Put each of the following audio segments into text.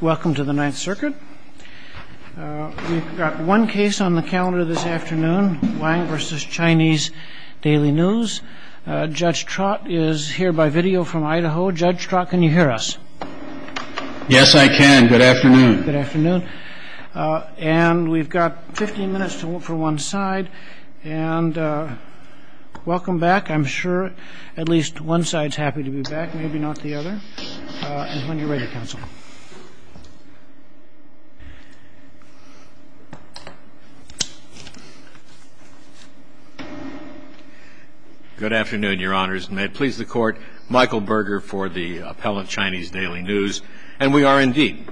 Welcome to the Ninth Circuit. We've got one case on the calendar this afternoon, Wang v. Chinese Daily News. Judge Trott is here by video from Idaho. Judge Trott, can you hear us? Yes, I can. Good afternoon. Good afternoon. And we've got 15 minutes to look for one side, and welcome back. I'm sure at least one side's happy to be back, maybe not the other. And when you're ready, counsel. Good afternoon, Your Honors. And may it please the Court, Michael Berger for the appellant, Chinese Daily News. And we are indeed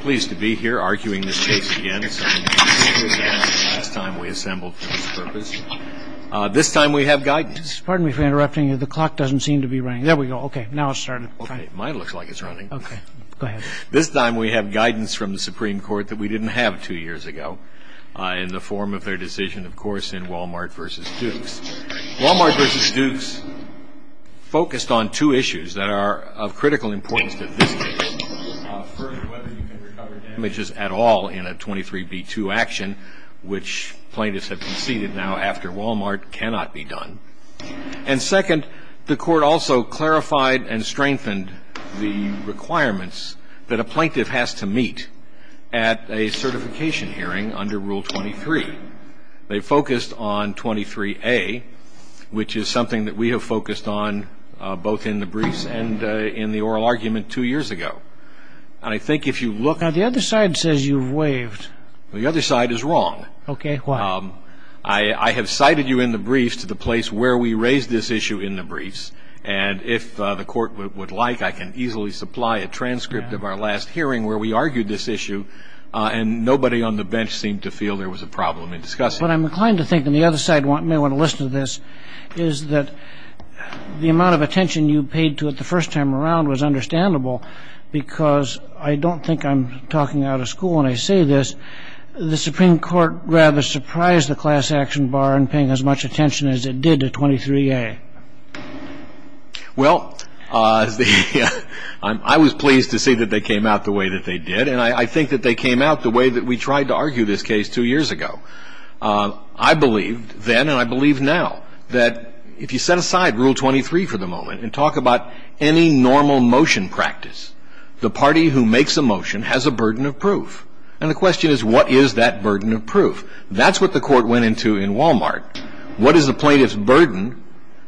pleased to be here arguing this case again, something we did last time we assembled for this purpose. This time we have guidance. Pardon me for interrupting you. The clock doesn't seem to be running. There we go. Okay, now it's started. Okay, it might look like it's running. Okay, go ahead. This time we have guidance from the Supreme Court that we didn't have two years ago in the form of their decision, of course, in Wal-Mart v. Dukes. Wal-Mart v. Dukes focused on two issues that are of critical importance to this case. First, whether you can recover damages at all in a 23b2 action, which plaintiffs have conceded now after Wal-Mart, cannot be done. And second, the Court also clarified and strengthened the requirements that a plaintiff has to meet at a certification hearing under Rule 23. They focused on 23a, which is something that we have focused on both in the briefs and in the oral argument two years ago. And I think if you look... Now, the other side says you've waived. The other side is wrong. Okay, why? I have cited you in the briefs to the place where we raised this issue in the briefs, and if the Court would like, I can easily supply a transcript of our last hearing where we argued this issue, and nobody on the bench seemed to feel there was a problem in discussing it. But I'm inclined to think that the other side may want to listen to this, is that the amount of attention you paid to it the first time around was understandable, because I don't think I'm talking out of school when I say this. The Supreme Court rather surprised the class action bar in paying as much attention as it did to 23a. Well, I was pleased to see that they came out the way that they did, and I think that they came out the way that we tried to argue this case two years ago. I believed then, and I believe now, that if you set aside Rule 23 for the moment and talk about any normal motion practice, the party who makes a motion has a burden of proof. And the question is, what is that burden of proof? That's what the Court went into in Walmart. What is a plaintiff's burden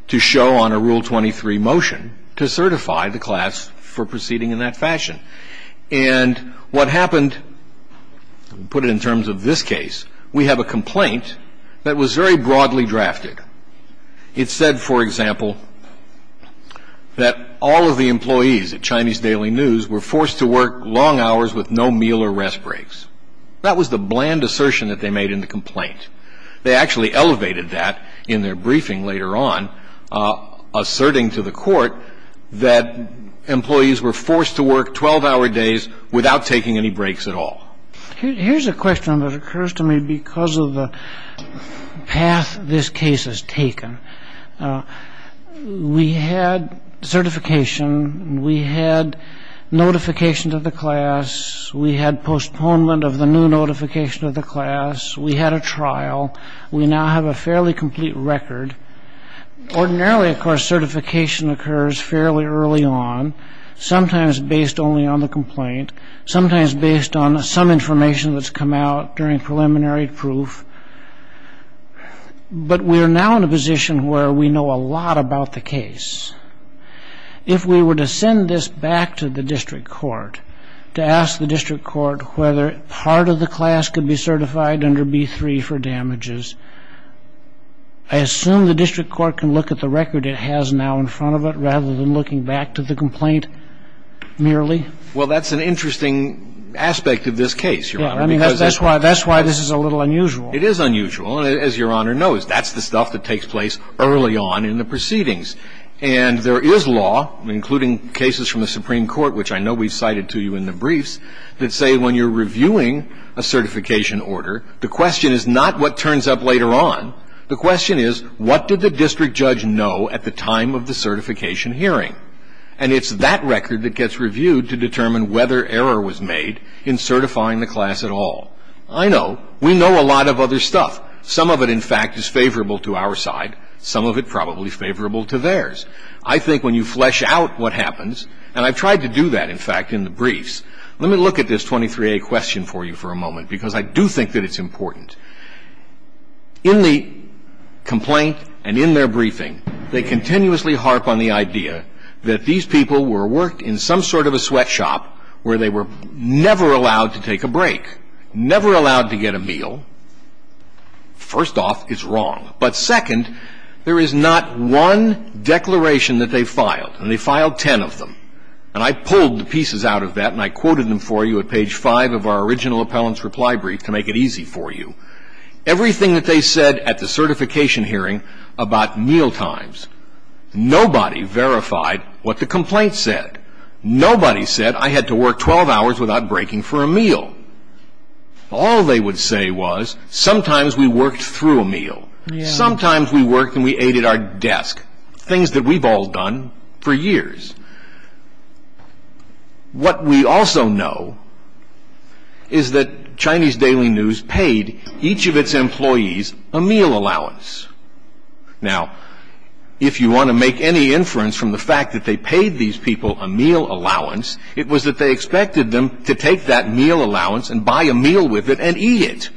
to show on a Rule 23 motion to certify the class for proceeding in that fashion? And what happened, put it in terms of this case, we have a complaint that was very broadly drafted. It said, for example, that all of the employees at Chinese Daily News were forced to work long hours with no meal or rest breaks. That was the bland assertion that they made in the complaint. They actually elevated that in their briefing later on, asserting to the Court that employees were forced to work 12-hour days without taking any breaks at all. Here's a question that occurs to me because of the path this case has taken. We had certification and we had notification to the class. We had postponement of the new notification to the class. We had a trial. We now have a fairly complete record. Ordinarily, of course, certification occurs fairly early on, sometimes based only on the complaint, sometimes based on some information that's come out during preliminary proof. But we are now in a position where we know a lot about the case. If we were to send this back to the district court to ask the district court whether part of the class could be certified under B-3 for damages, I assume the district court can look at the record it has now in front of it rather than looking back to the complaint merely? Well, that's an interesting aspect of this case, Your Honor, because that's why this is a little unusual. It is unusual. And as Your Honor knows, that's the stuff that takes place early on in the proceedings. And there is law, including cases from the Supreme Court, which I know we've cited to you in the briefs, that say when you're reviewing a certification order, the question is not what turns up later on. The question is, what did the district judge know at the time of the certification hearing? And it's that record that gets reviewed to determine whether error was made in certifying the class at all. I know. We know a lot of other stuff. Some of it, in fact, is favorable to our side. Some of it probably favorable to theirs. I think when you flesh out what happens, and I've tried to do that, in fact, in the briefs, let me look at this 23A question for you for a moment, because I do think that it's important. In the complaint and in their briefing, they continuously harp on the idea that these people were worked in some sort of a sweatshop where they were never allowed to take a break, never allowed to get a meal. First off, it's wrong. But second, there is not one declaration that they filed. And they filed ten of them. And I pulled the pieces out of that, and I quoted them for you at page five of our original appellant's reply brief to make it easy for you. Everything that they said at the certification hearing about mealtimes, nobody verified what the complaint said. Nobody said, I had to work 12 hours without breaking for a meal. All they would say was, sometimes we worked through a meal. Sometimes we worked and we ate at our desk. Things that we've all done for years. What we also know is that Chinese Daily News paid each of its employees a meal allowance. Now, if you want to make any inference from the fact that they paid these people a meal allowance, it was that they expected them to take that meal allowance and buy a meal with it and eat it.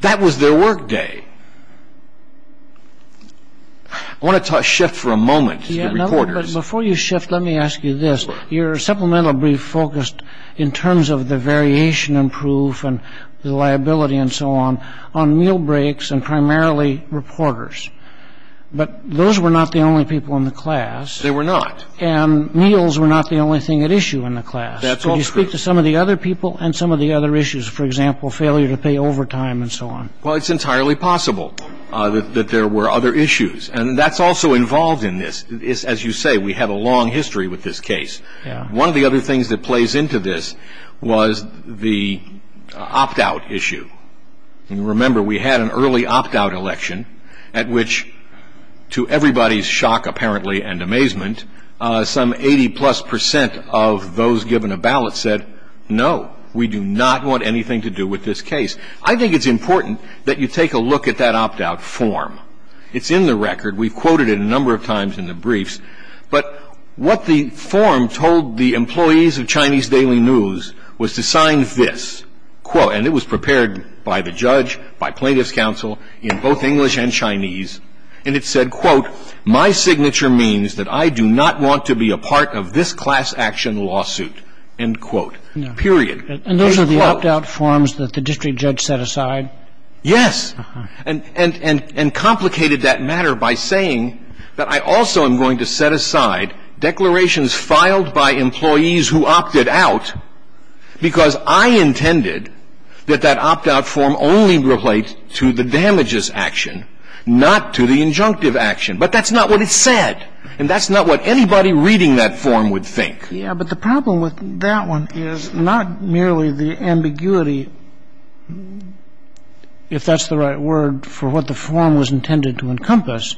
That was their work day. I want to shift for a moment to the reporters. Before you shift, let me ask you this. Your supplemental brief focused, in terms of the variation in proof and the liability and so on, on meal breaks and primarily reporters. But those were not the only people in the class. They were not. And meals were not the only thing at issue in the class. That's all true. Can you speak to some of the other people and some of the other issues? For example, failure to pay overtime and so on. Well, it's entirely possible that there were other issues. And that's also involved in this. As you say, we have a long history with this case. One of the other things that plays into this was the opt-out issue. And remember, we had an early opt-out election at which, to everybody's shock apparently and amazement, some 80 plus percent of those given a ballot said, no, we do not want anything to do with this case. I think it's important that you take a look at that opt-out form. It's in the record. We've quoted it a number of times in the briefs. But what the form told the employees of Chinese Daily News was to sign this. And it was prepared by the judge, by plaintiff's counsel, in both English and Chinese. And it said, quote, my signature means that I do not want to be a part of this class action lawsuit, end quote, period. And those are the opt-out forms that the district judge set aside? Yes. And complicated that matter by saying that I also am going to set aside declarations filed by employees who opted out because I intended that that opt-out form only relate to the damages action, not to the injunctive action. But that's not what it said. And that's not what anybody reading that form would think. Yeah, but the problem with that one is not merely the ambiguity, if that's the right word, for what the form was intended to encompass,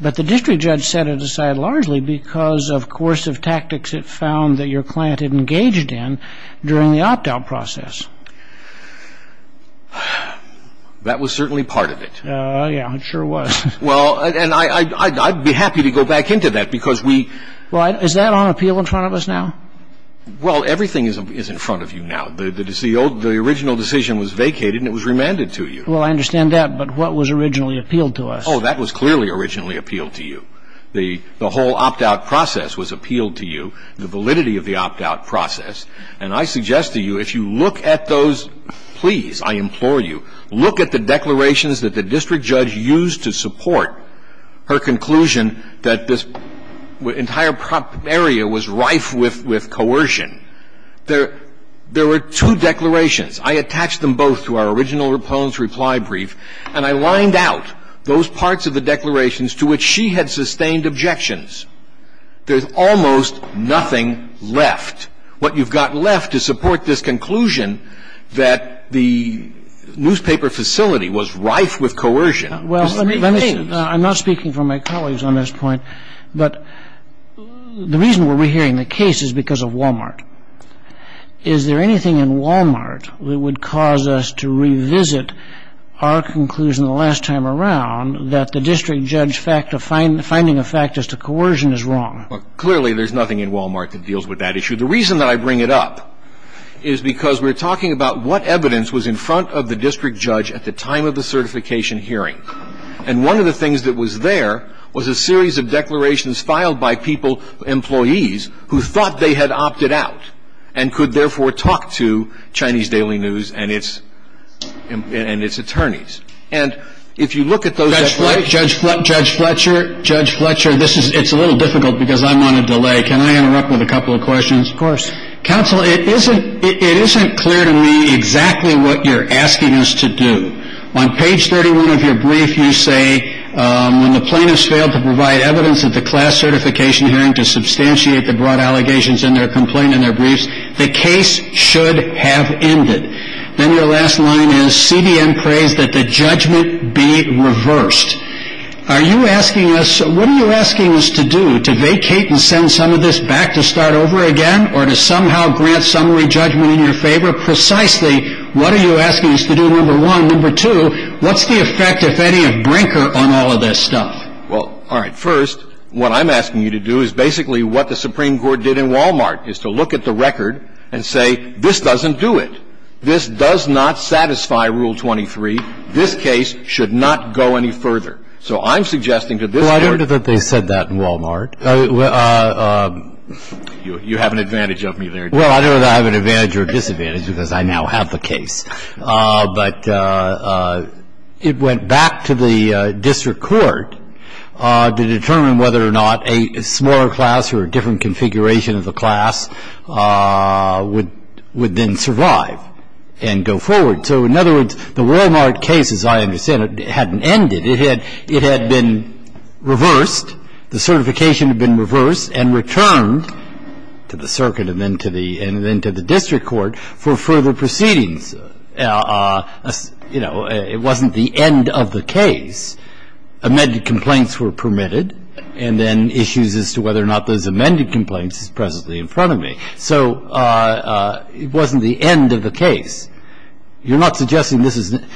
but the district judge set it aside largely because of coercive tactics it found that your client had engaged in during the opt-out process. That was certainly part of it. Yeah, it sure was. Well, and I'd be happy to go back into that because we... Is that on appeal in front of us now? Well, everything is in front of you now. The original decision was vacated and it was remanded to you. Well, I understand that, but what was originally appealed to us? Oh, that was clearly originally appealed to you. The whole opt-out process was appealed to you, the validity of the opt-out process. And I suggest to you, if you look at those, please, I implore you, look at the declarations that the district judge used to support her conclusion that this entire area was rife with coercion. There were two declarations. I attached them both to our original proponents' reply brief, and I lined out those parts of the declarations to which she had sustained objections. There's almost nothing left. What you've got left to support this conclusion that the newspaper facility was rife with coercion is the definitions. Well, let me say, I'm not speaking for my colleagues on this point, but the reason we're re-hearing the case is because of Wal-Mart. Is there anything in Wal-Mart that would cause us to revisit our conclusion the last time around that the district judge finding a fact as to coercion is wrong? Well, clearly there's nothing in Wal-Mart that deals with that issue. The reason that I bring it up is because we're talking about what evidence was in front of the district judge at the time of the certification hearing. And one of the things that was there was a series of declarations filed by people, employees, who thought they had opted out and could therefore talk to Chinese Daily News and its attorneys. And if you look at those... Judge Fletcher, Judge Fletcher, this is, it's a little difficult because I'm on a delay. Can I interrupt with a couple of questions? Of course. Counsel, it isn't clear to me exactly what you're asking us to do. On page 31 of your brief, you say, when the plaintiffs failed to provide evidence at the class certification hearing to substantiate the broad allegations in their complaint and their briefs, the case should have ended. Then your last line is, CBN prays that the judgment be reversed. Are you asking us, what are you asking us to do, to vacate and send some of this back to start over again or to somehow grant summary judgment in your favor? Precisely, what are you asking us to do, number one? Number two, what's the effect, if any, of Brinker on all of this stuff? Well, all right. First, what I'm asking you to do is basically what the Supreme Court did in Walmart, is to look at the record and say, this doesn't do it. This does not satisfy Rule 23. This case should not go any further. So I'm suggesting to this Court... Well, I don't know whether I have an advantage or a disadvantage, because I now have the case. But it went back to the district court to determine whether or not a smaller class or a different configuration of the class would then survive and go forward. So in other words, the Walmart case, as I understand it, hadn't ended. It had been reversed. The certification had been reversed and returned to the circuit and then to the district court for further proceedings. You know, it wasn't the end of the case. Amended complaints were permitted, and then issues as to whether or not those amended complaints is presently in front of me. So it wasn't the end of the case. You're not saying that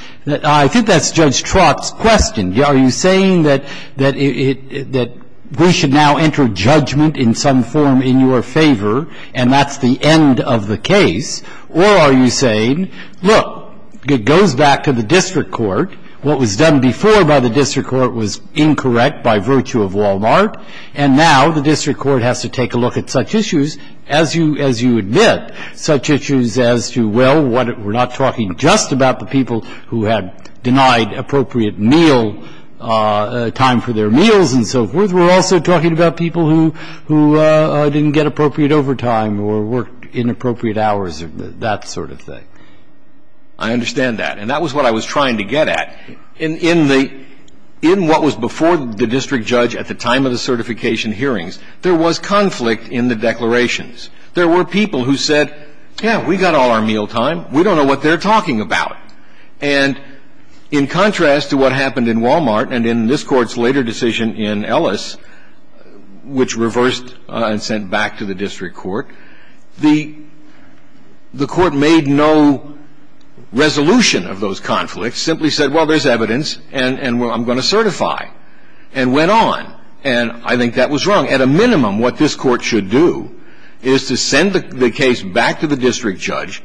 we should now enter judgment in some form in your favor, and that's the end of the case. Or are you saying, look, it goes back to the district court. What was done before by the district court was incorrect by virtue of Walmart, and now the district court has to take a look at such issues as you admit, such issues as to, well, we're not talking just about the people who had denied appropriate meal, time for their meals and so forth. We're also talking about people who didn't get appropriate overtime or worked inappropriate hours or that sort of thing. I understand that. And that was what I was trying to get at. In what was before the district judge at the time of the certification hearings, there was conflict in the declarations. There were people who said, yeah, we got all our meal time. We don't know what they're talking about. And in contrast to what happened in Walmart and in this Court's later decision in Ellis, which reversed and sent back to the district court, the Court made no resolution of those conflicts, simply said, well, there's evidence and I'm going to certify, and went on. And I think that was wrong. At a minimum, what this Court should do is to send the case back to the district judge,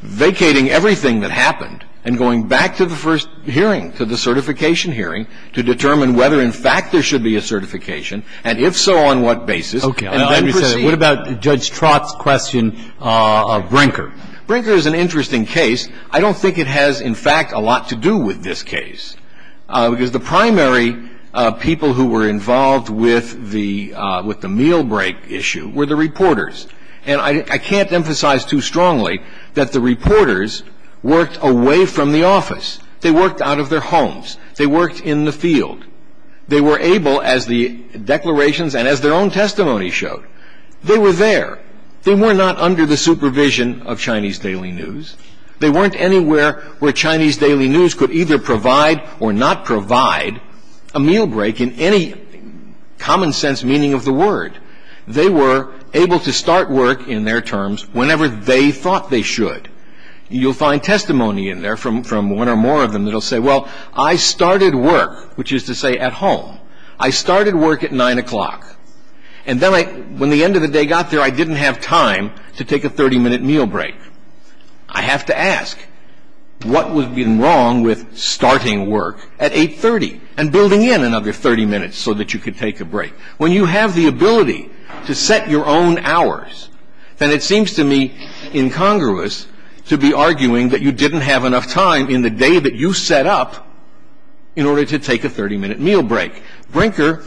vacating everything that happened and going back to the first hearing, to the certification hearing, to determine whether, in fact, there should be a certification, and if so, on what basis, and then proceed. Okay. What about Judge Trott's question of Brinker? Brinker is an interesting case. I don't think it has, in fact, a lot to do with this case, because the primary people who were involved with the meal break issue were the reporters. And I can't emphasize too strongly that the reporters worked away from the office. They worked out of their homes. They worked in the field. They were able, as the declarations and as their own testimony showed, they were there. They were not under the supervision of Chinese Daily News. They weren't anywhere where Chinese Daily News could either provide or not provide a meal break in any common sense meaning of the word. They were able to start work in their terms whenever they thought they should. You'll find testimony in there from one or more of them that will say, well, I started work, which is to say at home. I started work at 9 o'clock. And then I, when the end of the day got there, I didn't have time to take a 30-minute meal break. I have to ask, what would have been wrong with starting work at 8.30 and building in another 30 minutes so that you could take a break? When you have the ability to set your own hours, then it seems to me incongruous to be arguing that you didn't have enough time in the day that you set up in order to take a 30-minute meal break. Brinker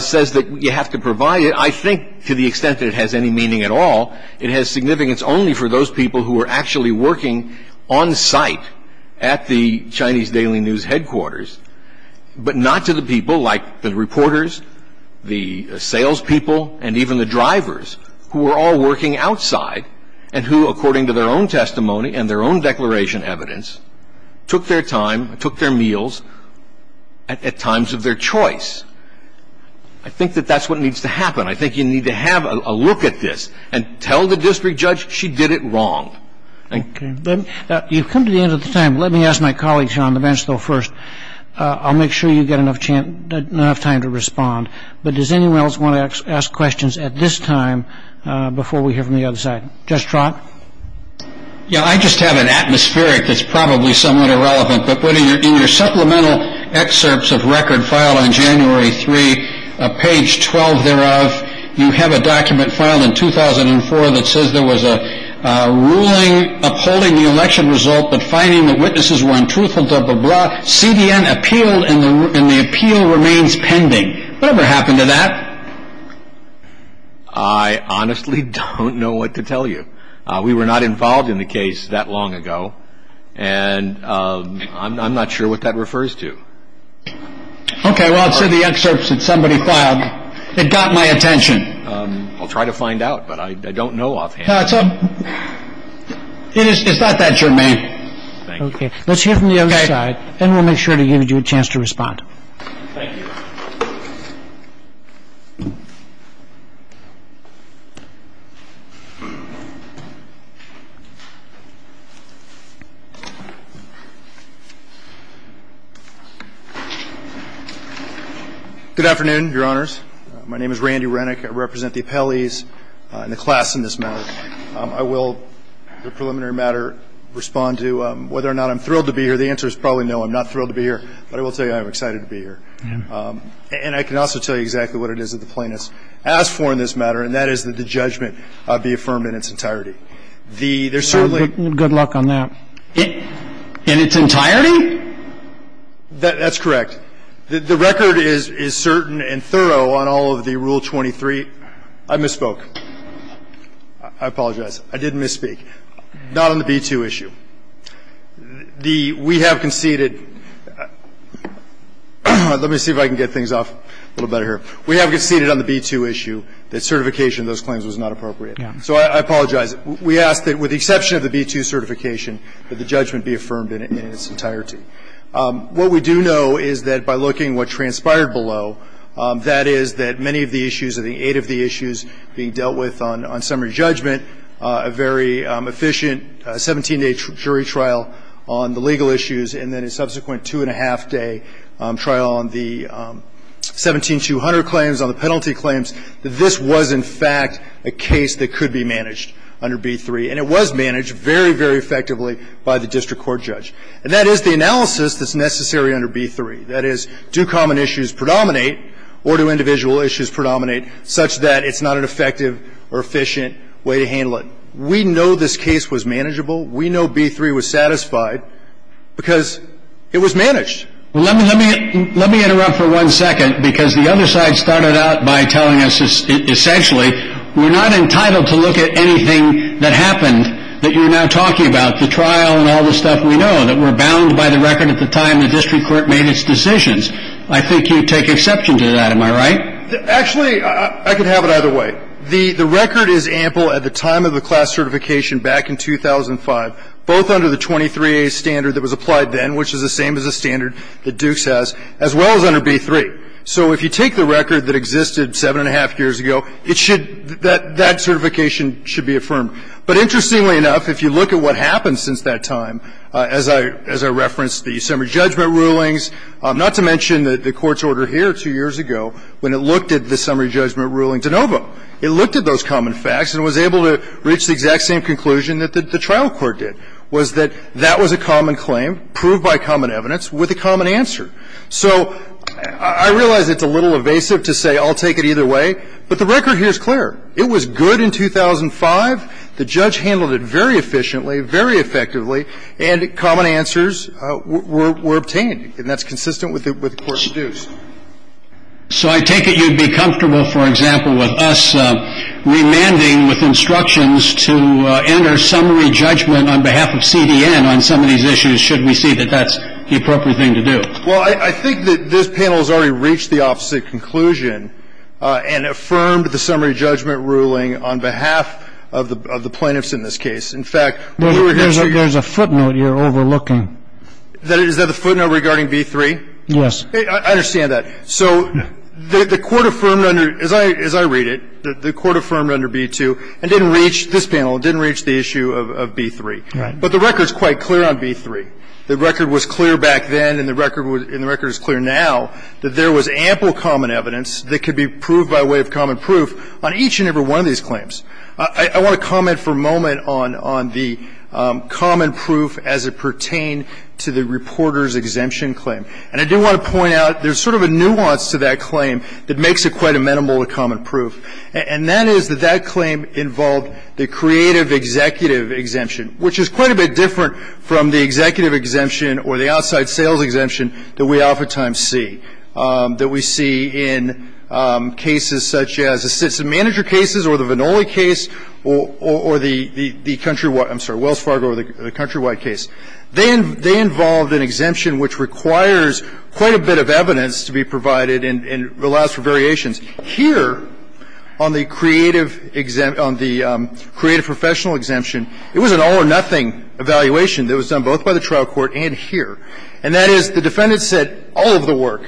says that you have to provide it. I think to the extent that it has any meaning at all, it has significance only for those people who are actually working on site at the Chinese Daily News headquarters, but not to the people like the reporters, the salespeople, and even the drivers who were all working outside and who, according to their own testimony and their own declaration evidence, took their time, took their meals at times of their choice. I think that that's what needs to happen. I think you need to have a look at this and tell the district judge she did it wrong. Okay. You've come to the end of the time. Let me ask my colleagues here on the bench, though, first. I'll make sure you get enough time to respond, but does anyone else want to ask questions at this time before we hear from the other side? Judge Trott? Yeah, I just have an atmospheric that's probably somewhat irrelevant, but in your supplemental excerpts of record filed on January 3, page 12 thereof, you have a document filed in 2004 that says there was a ruling upholding the election result but finding that witnesses were untruthful, blah, blah, blah. CDN appealed and the appeal remains pending. Whatever happened to that? I honestly don't know what to tell you. We were not involved in the case that long ago, and I'm not sure what that refers to. Okay, well, it's in the excerpts that somebody filed. It got my attention. I'll try to find out, but I don't know offhand. It's not that germane. Okay. Let's hear from the other side, and we'll make sure to give you a chance to respond. Thank you. Good afternoon, Your Honors. My name is Randy Renick. I represent the appellees and the class in this matter. I will, in a preliminary matter, respond to whether or not I'm thrilled to be here. The answer is probably no, I'm not thrilled to be here, but I will tell you I am excited to be here. And I can also tell you exactly what it is that the plaintiffs asked for in this matter, and that is that the judgment be affirmed in its entirety. Good luck on that. In its entirety? That's correct. The record is certain and thorough on all of the Rule 23. I misspoke. I apologize. I didn't misspeak. Not on the B-2 issue. The we have conceded, let me see if I can get things off a little better here. We have conceded on the B-2 issue that certification of those claims was not appropriate. So I apologize. We ask that with the exception of the B-2 certification, that the judgment be affirmed in its entirety. What we do know is that by looking at what transpired below, that is that many of the issues of the eight of the issues being dealt with on summary judgment, a very efficient 17-day jury trial on the legal issues, and then a subsequent two-and-a-half-day trial on the 17-200 claims, on the penalty claims, that this was, in fact, a case that could be managed under B-3. And it was managed very, very effectively by the district court judge. And that is the analysis that's necessary under B-3. That is, do common issues predominate or do individual issues predominate such that it's not an effective or efficient way to handle it? We know this case was manageable. We know B-3 was satisfied because it was managed. Let me interrupt for one second because the other side started out by telling us essentially we're not entitled to look at anything that happened that you're now talking about. We're bound by the record at the time the district court made its decisions. I think you take exception to that. Am I right? Actually, I could have it either way. The record is ample at the time of the class certification back in 2005, both under the 23-A standard that was applied then, which is the same as the standard that Dukes has, as well as under B-3. So if you take the record that existed seven-and-a-half years ago, it should, that certification should be affirmed. But interestingly enough, if you look at what happened since that time, as I referenced the summary judgment rulings, not to mention the court's order here two years ago, when it looked at the summary judgment ruling de novo. It looked at those common facts and was able to reach the exact same conclusion that the trial court did, was that that was a common claim, proved by common evidence, with a common answer. So I realize it's a little evasive to say I'll take it either way, but the record here is clear. It was good in 2005. The judge handled it very efficiently, very effectively, and common answers were obtained. And that's consistent with the court's views. So I take it you'd be comfortable, for example, with us remanding with instructions to enter summary judgment on behalf of CDN on some of these issues, should we see that that's the appropriate thing to do? Well, I think that this panel has already reached the opposite conclusion and affirmed with the summary judgment ruling on behalf of the plaintiffs in this case. In fact, we were going to say you're overlooking. Is that the footnote regarding B-3? Yes. I understand that. So the court affirmed under, as I read it, the court affirmed under B-2 and didn't reach, this panel, didn't reach the issue of B-3. Right. But the record's quite clear on B-3. The record was clear back then and the record is clear now that there was ample common evidence that could be proved by way of common proof on each and every one of these claims. I want to comment for a moment on the common proof as it pertained to the reporter's exemption claim. And I do want to point out there's sort of a nuance to that claim that makes it quite amenable to common proof, and that is that that claim involved the creative executive exemption, which is quite a bit different from the executive exemption or the outside sales exemption that we oftentimes see, that we see in cases such as the citizen manager cases or the Vannoli case or the countrywide, I'm sorry, Wells Fargo or the countrywide case. They involved an exemption which requires quite a bit of evidence to be provided and allows for variations. Here on the creative exemption, on the creative professional exemption, it was an all or nothing evaluation that was done both by the trial court and here. And that is the defendant said all of the work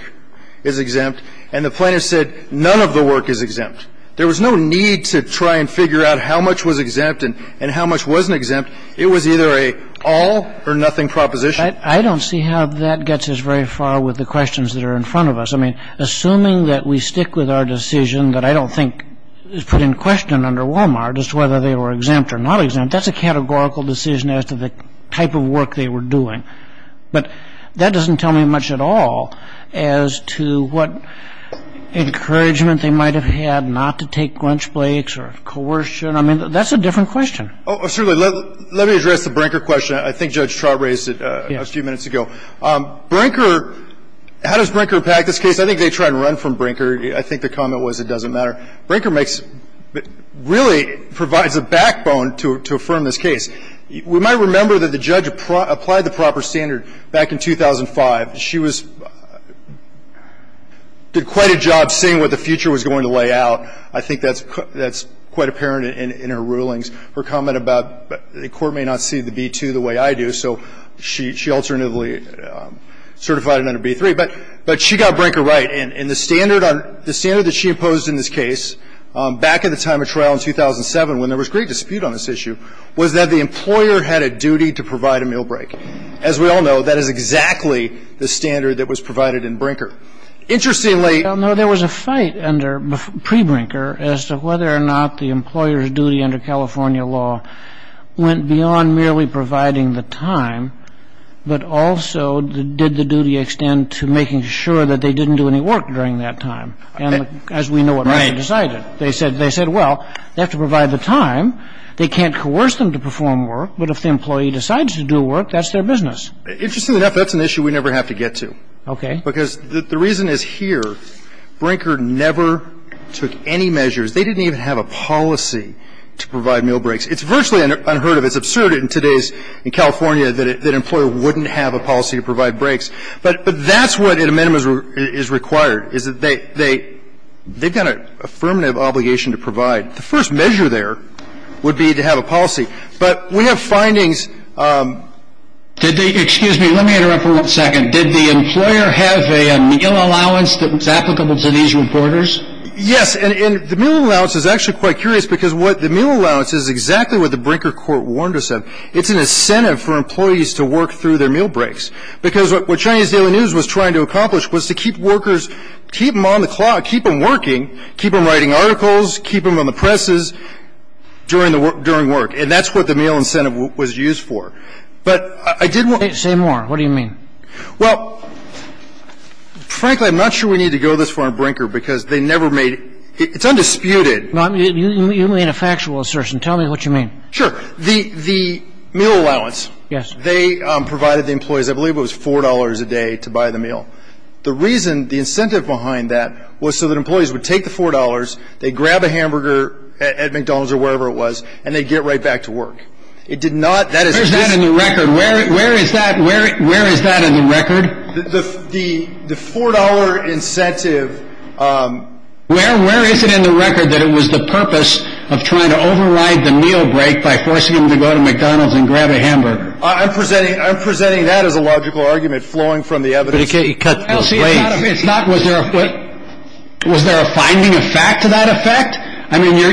is exempt and the plaintiff said none of the work is exempt. There was no need to try and figure out how much was exempt and how much wasn't exempt. It was either an all or nothing proposition. I don't see how that gets us very far with the questions that are in front of us. I mean, assuming that we stick with our decision that I don't think is put in question under Walmart as to whether they were exempt or not exempt, that's a categorical decision as to the type of work they were doing. But that doesn't tell me much at all as to what encouragement they might have had not to take Grinch Blakes or coercion. I mean, that's a different question. Oh, certainly. Let me address the Brinker question. I think Judge Trott raised it a few minutes ago. Yes. Brinker, how does Brinker impact this case? I think they try to run from Brinker. I think the comment was it doesn't matter. Brinker makes, really provides a backbone to affirm this case. We might remember that the judge applied the proper standard back in 2005. She was, did quite a job seeing what the future was going to lay out. I think that's quite apparent in her rulings. Her comment about the Court may not see the B-2 the way I do, so she alternatively certified it under B-3. But she got Brinker right. And the standard on, the standard that she imposed in this case back at the time of trial in 2007 when there was great dispute on this issue was that the employer had a duty to provide a meal break. As we all know, that is exactly the standard that was provided in Brinker. Interestingly. Well, no, there was a fight under, pre-Brinker as to whether or not the employer's duty under California law went beyond merely providing the time, but also did the work during that time. And as we know what Brinker decided. They said, well, they have to provide the time. They can't coerce them to perform work. But if the employee decides to do work, that's their business. Interestingly enough, that's an issue we never have to get to. Okay. Because the reason is here, Brinker never took any measures. They didn't even have a policy to provide meal breaks. It's virtually unheard of. It's absurd in today's, in California, that an employer wouldn't have a policy to provide breaks. But that's what an amendment is required, is that they've got an affirmative obligation to provide. The first measure there would be to have a policy. But we have findings. Did they, excuse me, let me interrupt for one second. Did the employer have a meal allowance that was applicable to these reporters? Yes. And the meal allowance is actually quite curious because what the meal allowance is exactly what the Brinker court warned us of. It's an incentive for employees to work through their meal breaks. Because what Chinese Daily News was trying to accomplish was to keep workers, keep them on the clock, keep them working, keep them writing articles, keep them on the presses during work. And that's what the meal incentive was used for. But I did want to say more. What do you mean? Well, frankly, I'm not sure we need to go this far on Brinker because they never made it. It's undisputed. You made a factual assertion. Tell me what you mean. Sure. The meal allowance. Yes. They provided the employees, I believe it was $4 a day to buy the meal. The reason, the incentive behind that was so that employees would take the $4, they'd grab a hamburger at McDonald's or wherever it was, and they'd get right back to work. It did not. Where is that in the record? Where is that in the record? The $4 incentive. Where is it in the record that it was the purpose of trying to override the meal break by forcing them to go to McDonald's and grab a hamburger? I'm presenting that as a logical argument flowing from the evidence. But you can't cut the phrase. It's not. Was there a finding of fact to that effect? I mean, your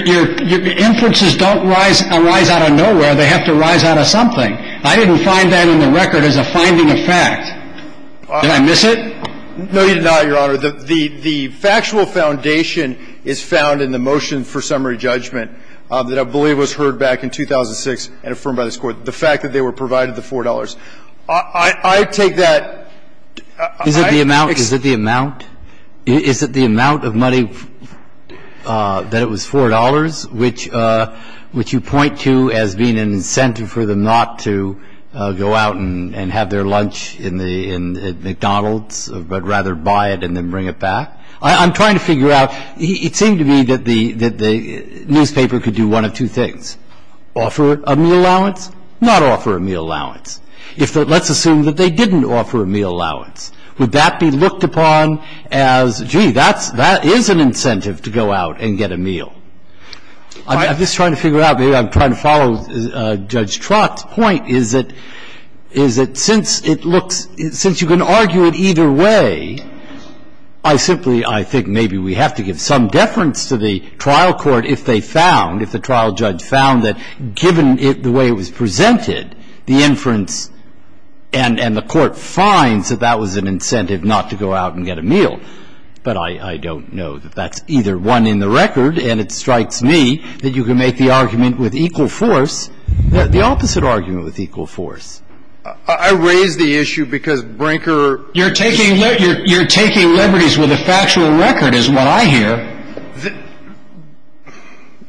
inferences don't arise out of nowhere. They have to arise out of something. I didn't find that in the record as a finding of fact. Did I miss it? No, you did not, Your Honor. The factual foundation is found in the motion for summary judgment that I believe was heard back in 2006 and affirmed by this Court. The fact that they were provided the $4. I take that. Is it the amount of money that it was $4, which you point to as being an incentive for them not to go out and have their lunch at McDonald's, but rather buy it and then bring it back? I'm trying to figure out. It seemed to me that the newspaper could do one of two things, offer a meal allowance, not offer a meal allowance. Let's assume that they didn't offer a meal allowance. Would that be looked upon as, gee, that is an incentive to go out and get a meal? I'm just trying to figure out. Maybe I'm trying to follow Judge Trott's point, is that since you can argue it either way, I simply, I think maybe we have to give some deference to the trial court if they found, if the trial judge found that given the way it was presented, the inference and the Court finds that that was an incentive not to go out and get a meal. But I don't know that that's either one in the record, and it strikes me that you can make the argument with equal force, the opposite argument with equal force. I raise the issue because Brinker You're taking liberties with a factual record is what I hear.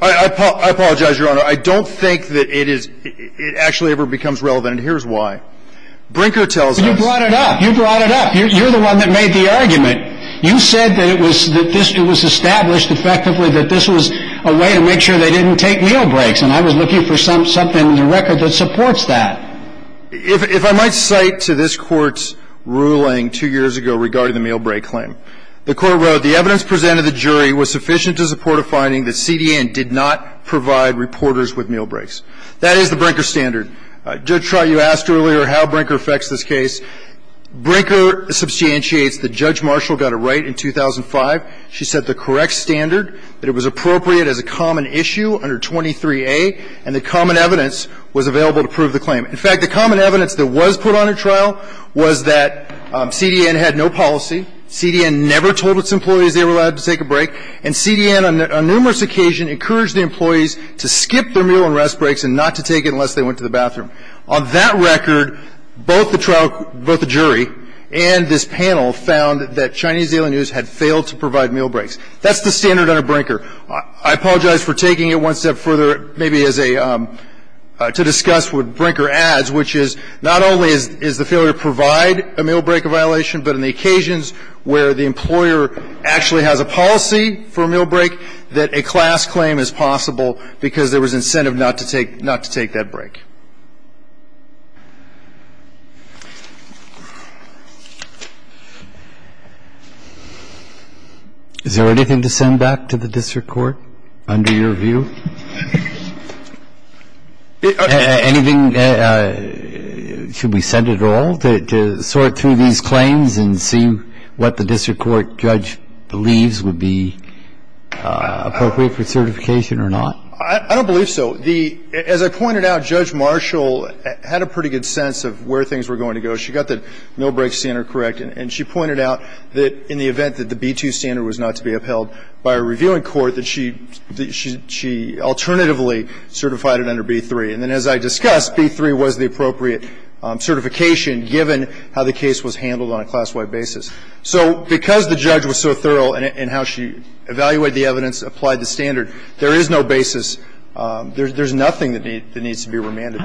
I apologize, Your Honor. I don't think that it actually ever becomes relevant, and here's why. Brinker tells us But you brought it up. You brought it up. You're the one that made the argument. You said that it was established effectively that this was a way to make sure they didn't take meal breaks, and I was looking for something in the record that supports that. If I might cite to this Court's ruling two years ago regarding the meal break claim, the Court wrote, The evidence presented to the jury was sufficient to support a finding that CDN did not provide reporters with meal breaks. That is the Brinker standard. Judge Trott, you asked earlier how Brinker affects this case. Brinker substantiates that Judge Marshall got it right in 2005. She set the correct standard, that it was appropriate as a common issue under 23A, and that common evidence was available to prove the claim. In fact, the common evidence that was put on at trial was that CDN had no policy. CDN never told its employees they were allowed to take a break, and CDN on numerous occasions encouraged the employees to skip their meal and rest breaks and not to take it unless they went to the bathroom. On that record, both the trial – both the jury and this panel found that Chinese Daily News had failed to provide meal breaks. That's the standard under Brinker. I apologize for taking it one step further, maybe as a – to discuss what Brinker adds, which is not only is the failure to provide a meal break a violation, but in the occasions where the employer actually has a policy for a meal break, that a class claim is possible because there was incentive not to take – not to take that break. Is there anything to send back to the district court under your view? Anything – should we send it all to sort through these claims and see what the district court judge believes would be appropriate for certification or not? I don't believe so. The – as I pointed out, Judge Marshall had a pretty good sense of where things were going to go. She got the meal break standard correct, and she pointed out that in the event that the B-2 standard was not to be upheld by a reviewing court, that she – she alternatively certified it under B-3. And then as I discussed, B-3 was the appropriate certification given how the case was handled on a class-wide basis. So because the judge was so thorough in how she evaluated the evidence, applied the standard, there is no basis – there's nothing that needs to be remanded.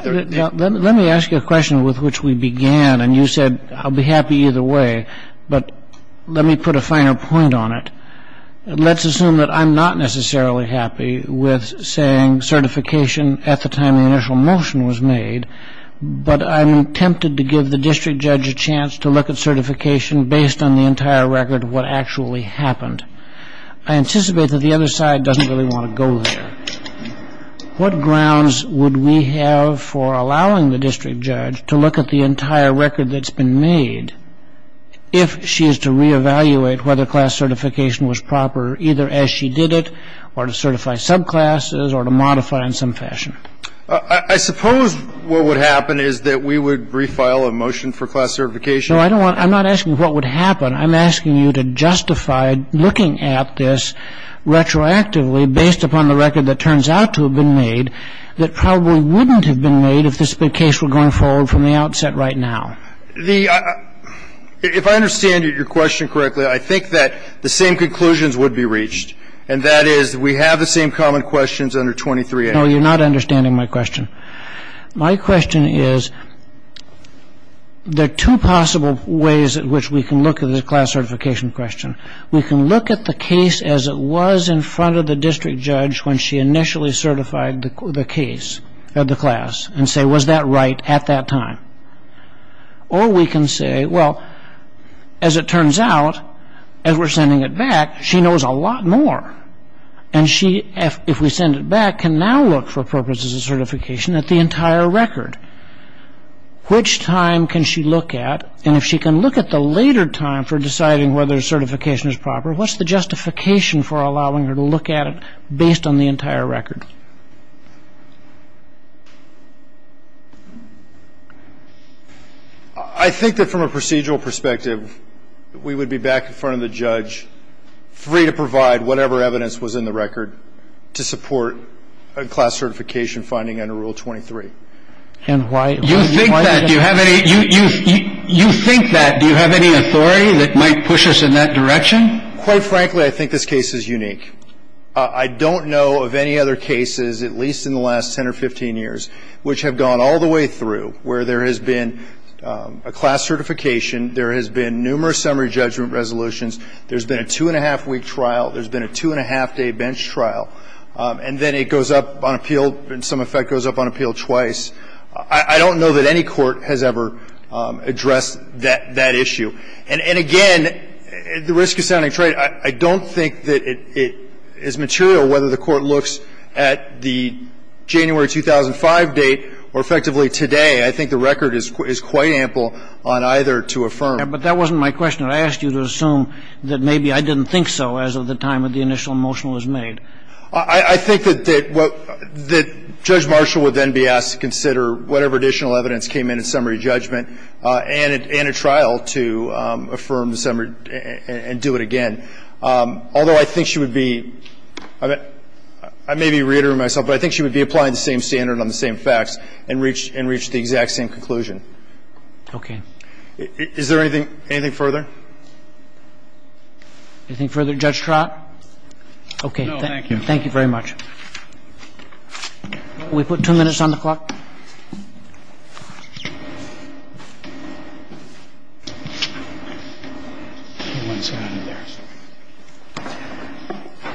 Let me ask you a question with which we began, and you said I'll be happy either way. But let me put a finer point on it. Let's assume that I'm not necessarily happy with saying certification at the time the initial motion was made, but I'm tempted to give the district judge a chance to look at certification based on the entire record of what actually happened. I anticipate that the other side doesn't really want to go there. What grounds would we have for allowing the district judge to look at the entire record that's been made if she is to reevaluate whether class certification was proper either as she did it or to certify subclasses or to modify in some fashion? I suppose what would happen is that we would refile a motion for class certification. No, I don't want – I'm not asking what would happen. I'm asking you to justify looking at this retroactively based upon the record that turns out to have been made that probably wouldn't have been made if this case were going forward from the outset right now. If I understand your question correctly, I think that the same conclusions would be reached, and that is we have the same common questions under 23A. No, you're not understanding my question. My question is there are two possible ways in which we can look at the class certification question. We can look at the case as it was in front of the district judge when she initially certified the case of the class and say, was that right at that time? Or we can say, well, as it turns out, as we're sending it back, she knows a lot more. And she, if we send it back, can now look for purposes of certification at the entire record. Which time can she look at? And if she can look at the later time for deciding whether certification is proper, what's the justification for allowing her to look at it based on the entire record? I think that from a procedural perspective, we would be back in front of the judge free to provide whatever evidence was in the record to support a class certification finding under Rule 23. And why is that? You think that. Do you have any authority that might push us in that direction? Quite frankly, I think this case is unique. I don't know of any other cases, at least in the last 10 or 15 years, which have gone all the way through where there has been a class certification. There has been numerous summary judgment resolutions. There's been a two-and-a-half-week trial. There's been a two-and-a-half-day bench trial. And then it goes up on appeal. In some effect, it goes up on appeal twice. I don't know that any court has ever addressed that issue. And, again, the risk is sounding trade. I don't think that it is material whether the court looks at the January 2005 date or effectively today. I think the record is quite ample on either to affirm. But that wasn't my question. I think that the Court has to make an assumption or ask you to assume that maybe I didn't think so as of the time that the initial motion was made. I think that Judge Marshall would then be asked to consider whatever additional evidence came in at summary judgment and at trial to affirm the summary and do it again. Although I think she would be – I may be reiterating myself, but I think she would could have used to affirm the summary and be applied the same standard on the same facts and reach the exact same conclusion. Okay. Is there anything further? Anything further, Judge Trott? No. Thank you. Thank you very much. We put two minutes on the clock.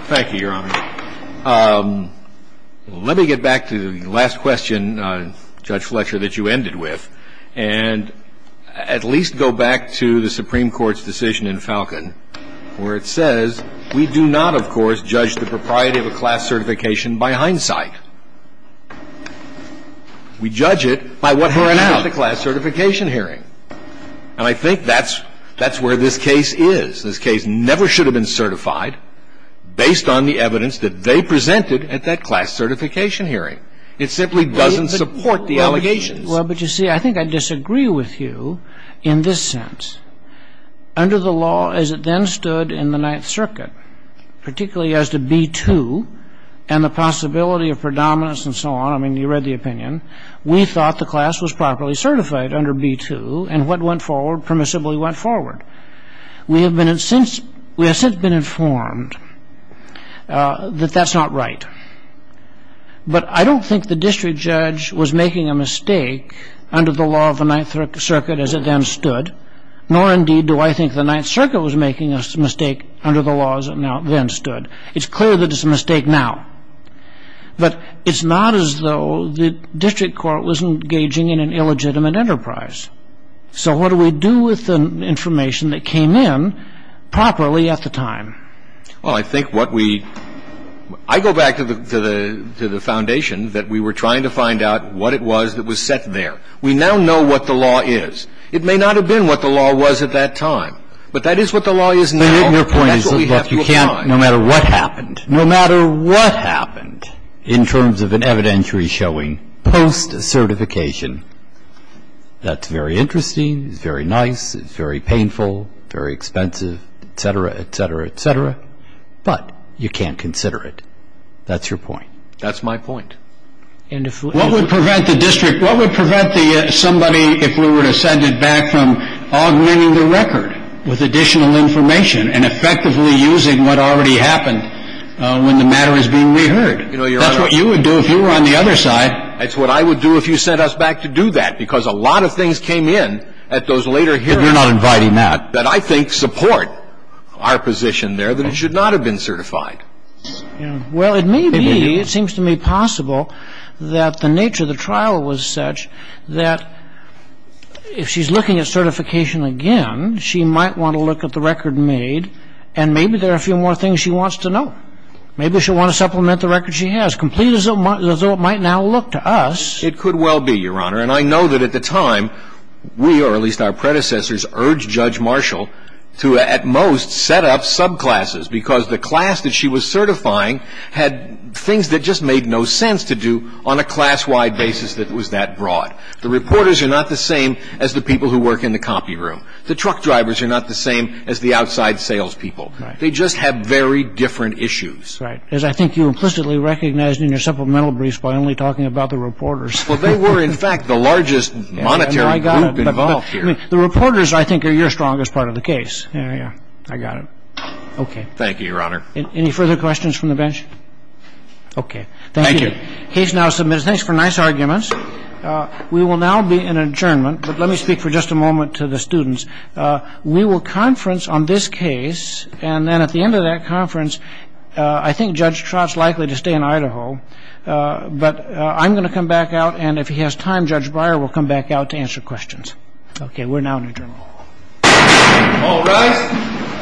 Thank you, Your Honor. Let me get back to the last question, Judge Fletcher, that you ended with and at least go back to the Supreme Court's decision in Falcon where it says we do not, of course, judge the propriety of a class certification by hindsight. We judge it by what happened at the class certification hearing. And I think that's where this case is. This case never should have been certified based on the evidence that they presented at that class certification hearing. It simply doesn't support the allegations. Well, but you see, I think I disagree with you in this sense. Under the law as it then stood in the Ninth Circuit, particularly as to B-2 and the possibility of predominance and so on, I mean, you read the opinion, we thought the class was properly certified under B-2 and what went forward permissibly went forward. We have since been informed that that's not right. But I don't think the district judge was making a mistake under the law of the Ninth Circuit as it then stood, nor indeed do I think the Ninth Circuit was making a mistake under the law as it then stood. It's clear that it's a mistake now. But it's not as though the district court was engaging in an illegitimate enterprise. So what do we do with the information that came in properly at the time? Well, I think what we – I go back to the foundation that we were trying to find out what it was that was set there. We now know what the law is. It may not have been what the law was at that time, but that is what the law is now. And that's what we have to apply. But your point is that you can't, no matter what happened, no matter what happened in terms of an evidentiary showing post-certification, that's very interesting, it's very nice, it's very painful, very expensive, et cetera, et cetera, et cetera, but you can't consider it. That's your point. That's my point. What would prevent the district – what would prevent somebody, if we were to send it back, from augmenting the record with additional information and effectively using what already happened when the matter is being reheard? That's what you would do if you were on the other side. That's what I would do if you sent us back to do that, because a lot of things came in at those later hearings. But we're not inviting that. That I think support our position there that it should not have been certified. Well, it may be, it seems to me possible, that the nature of the trial was such that if she's looking at certification again, she might want to look at the record made and maybe there are a few more things she wants to know. Maybe she'll want to supplement the record she has, complete as though it might now look to us. It could well be, Your Honor, and I know that at the time we, or at least our predecessors, urged Judge Marshall to at most set up subclasses, because the class that she was certifying had things that just made no sense to do on a class-wide basis that was that broad. The reporters are not the same as the people who work in the copy room. The truck drivers are not the same as the outside salespeople. They just have very different issues. Right. As I think you implicitly recognized in your supplemental briefs by only talking about the reporters. Well, they were, in fact, the largest monetary group involved here. The reporters, I think, are your strongest part of the case. I got it. Okay. Thank you, Your Honor. Any further questions from the bench? Okay. Thank you. The case now submits. Thanks for nice arguments. We will now be in adjournment, but let me speak for just a moment to the students. We will conference on this case, and then at the end of that conference, I think Judge Trott's likely to stay in Idaho, but I'm going to come back out, and if he has time, Judge Breyer will come back out to answer questions. Okay, we're now in adjournment. All rise.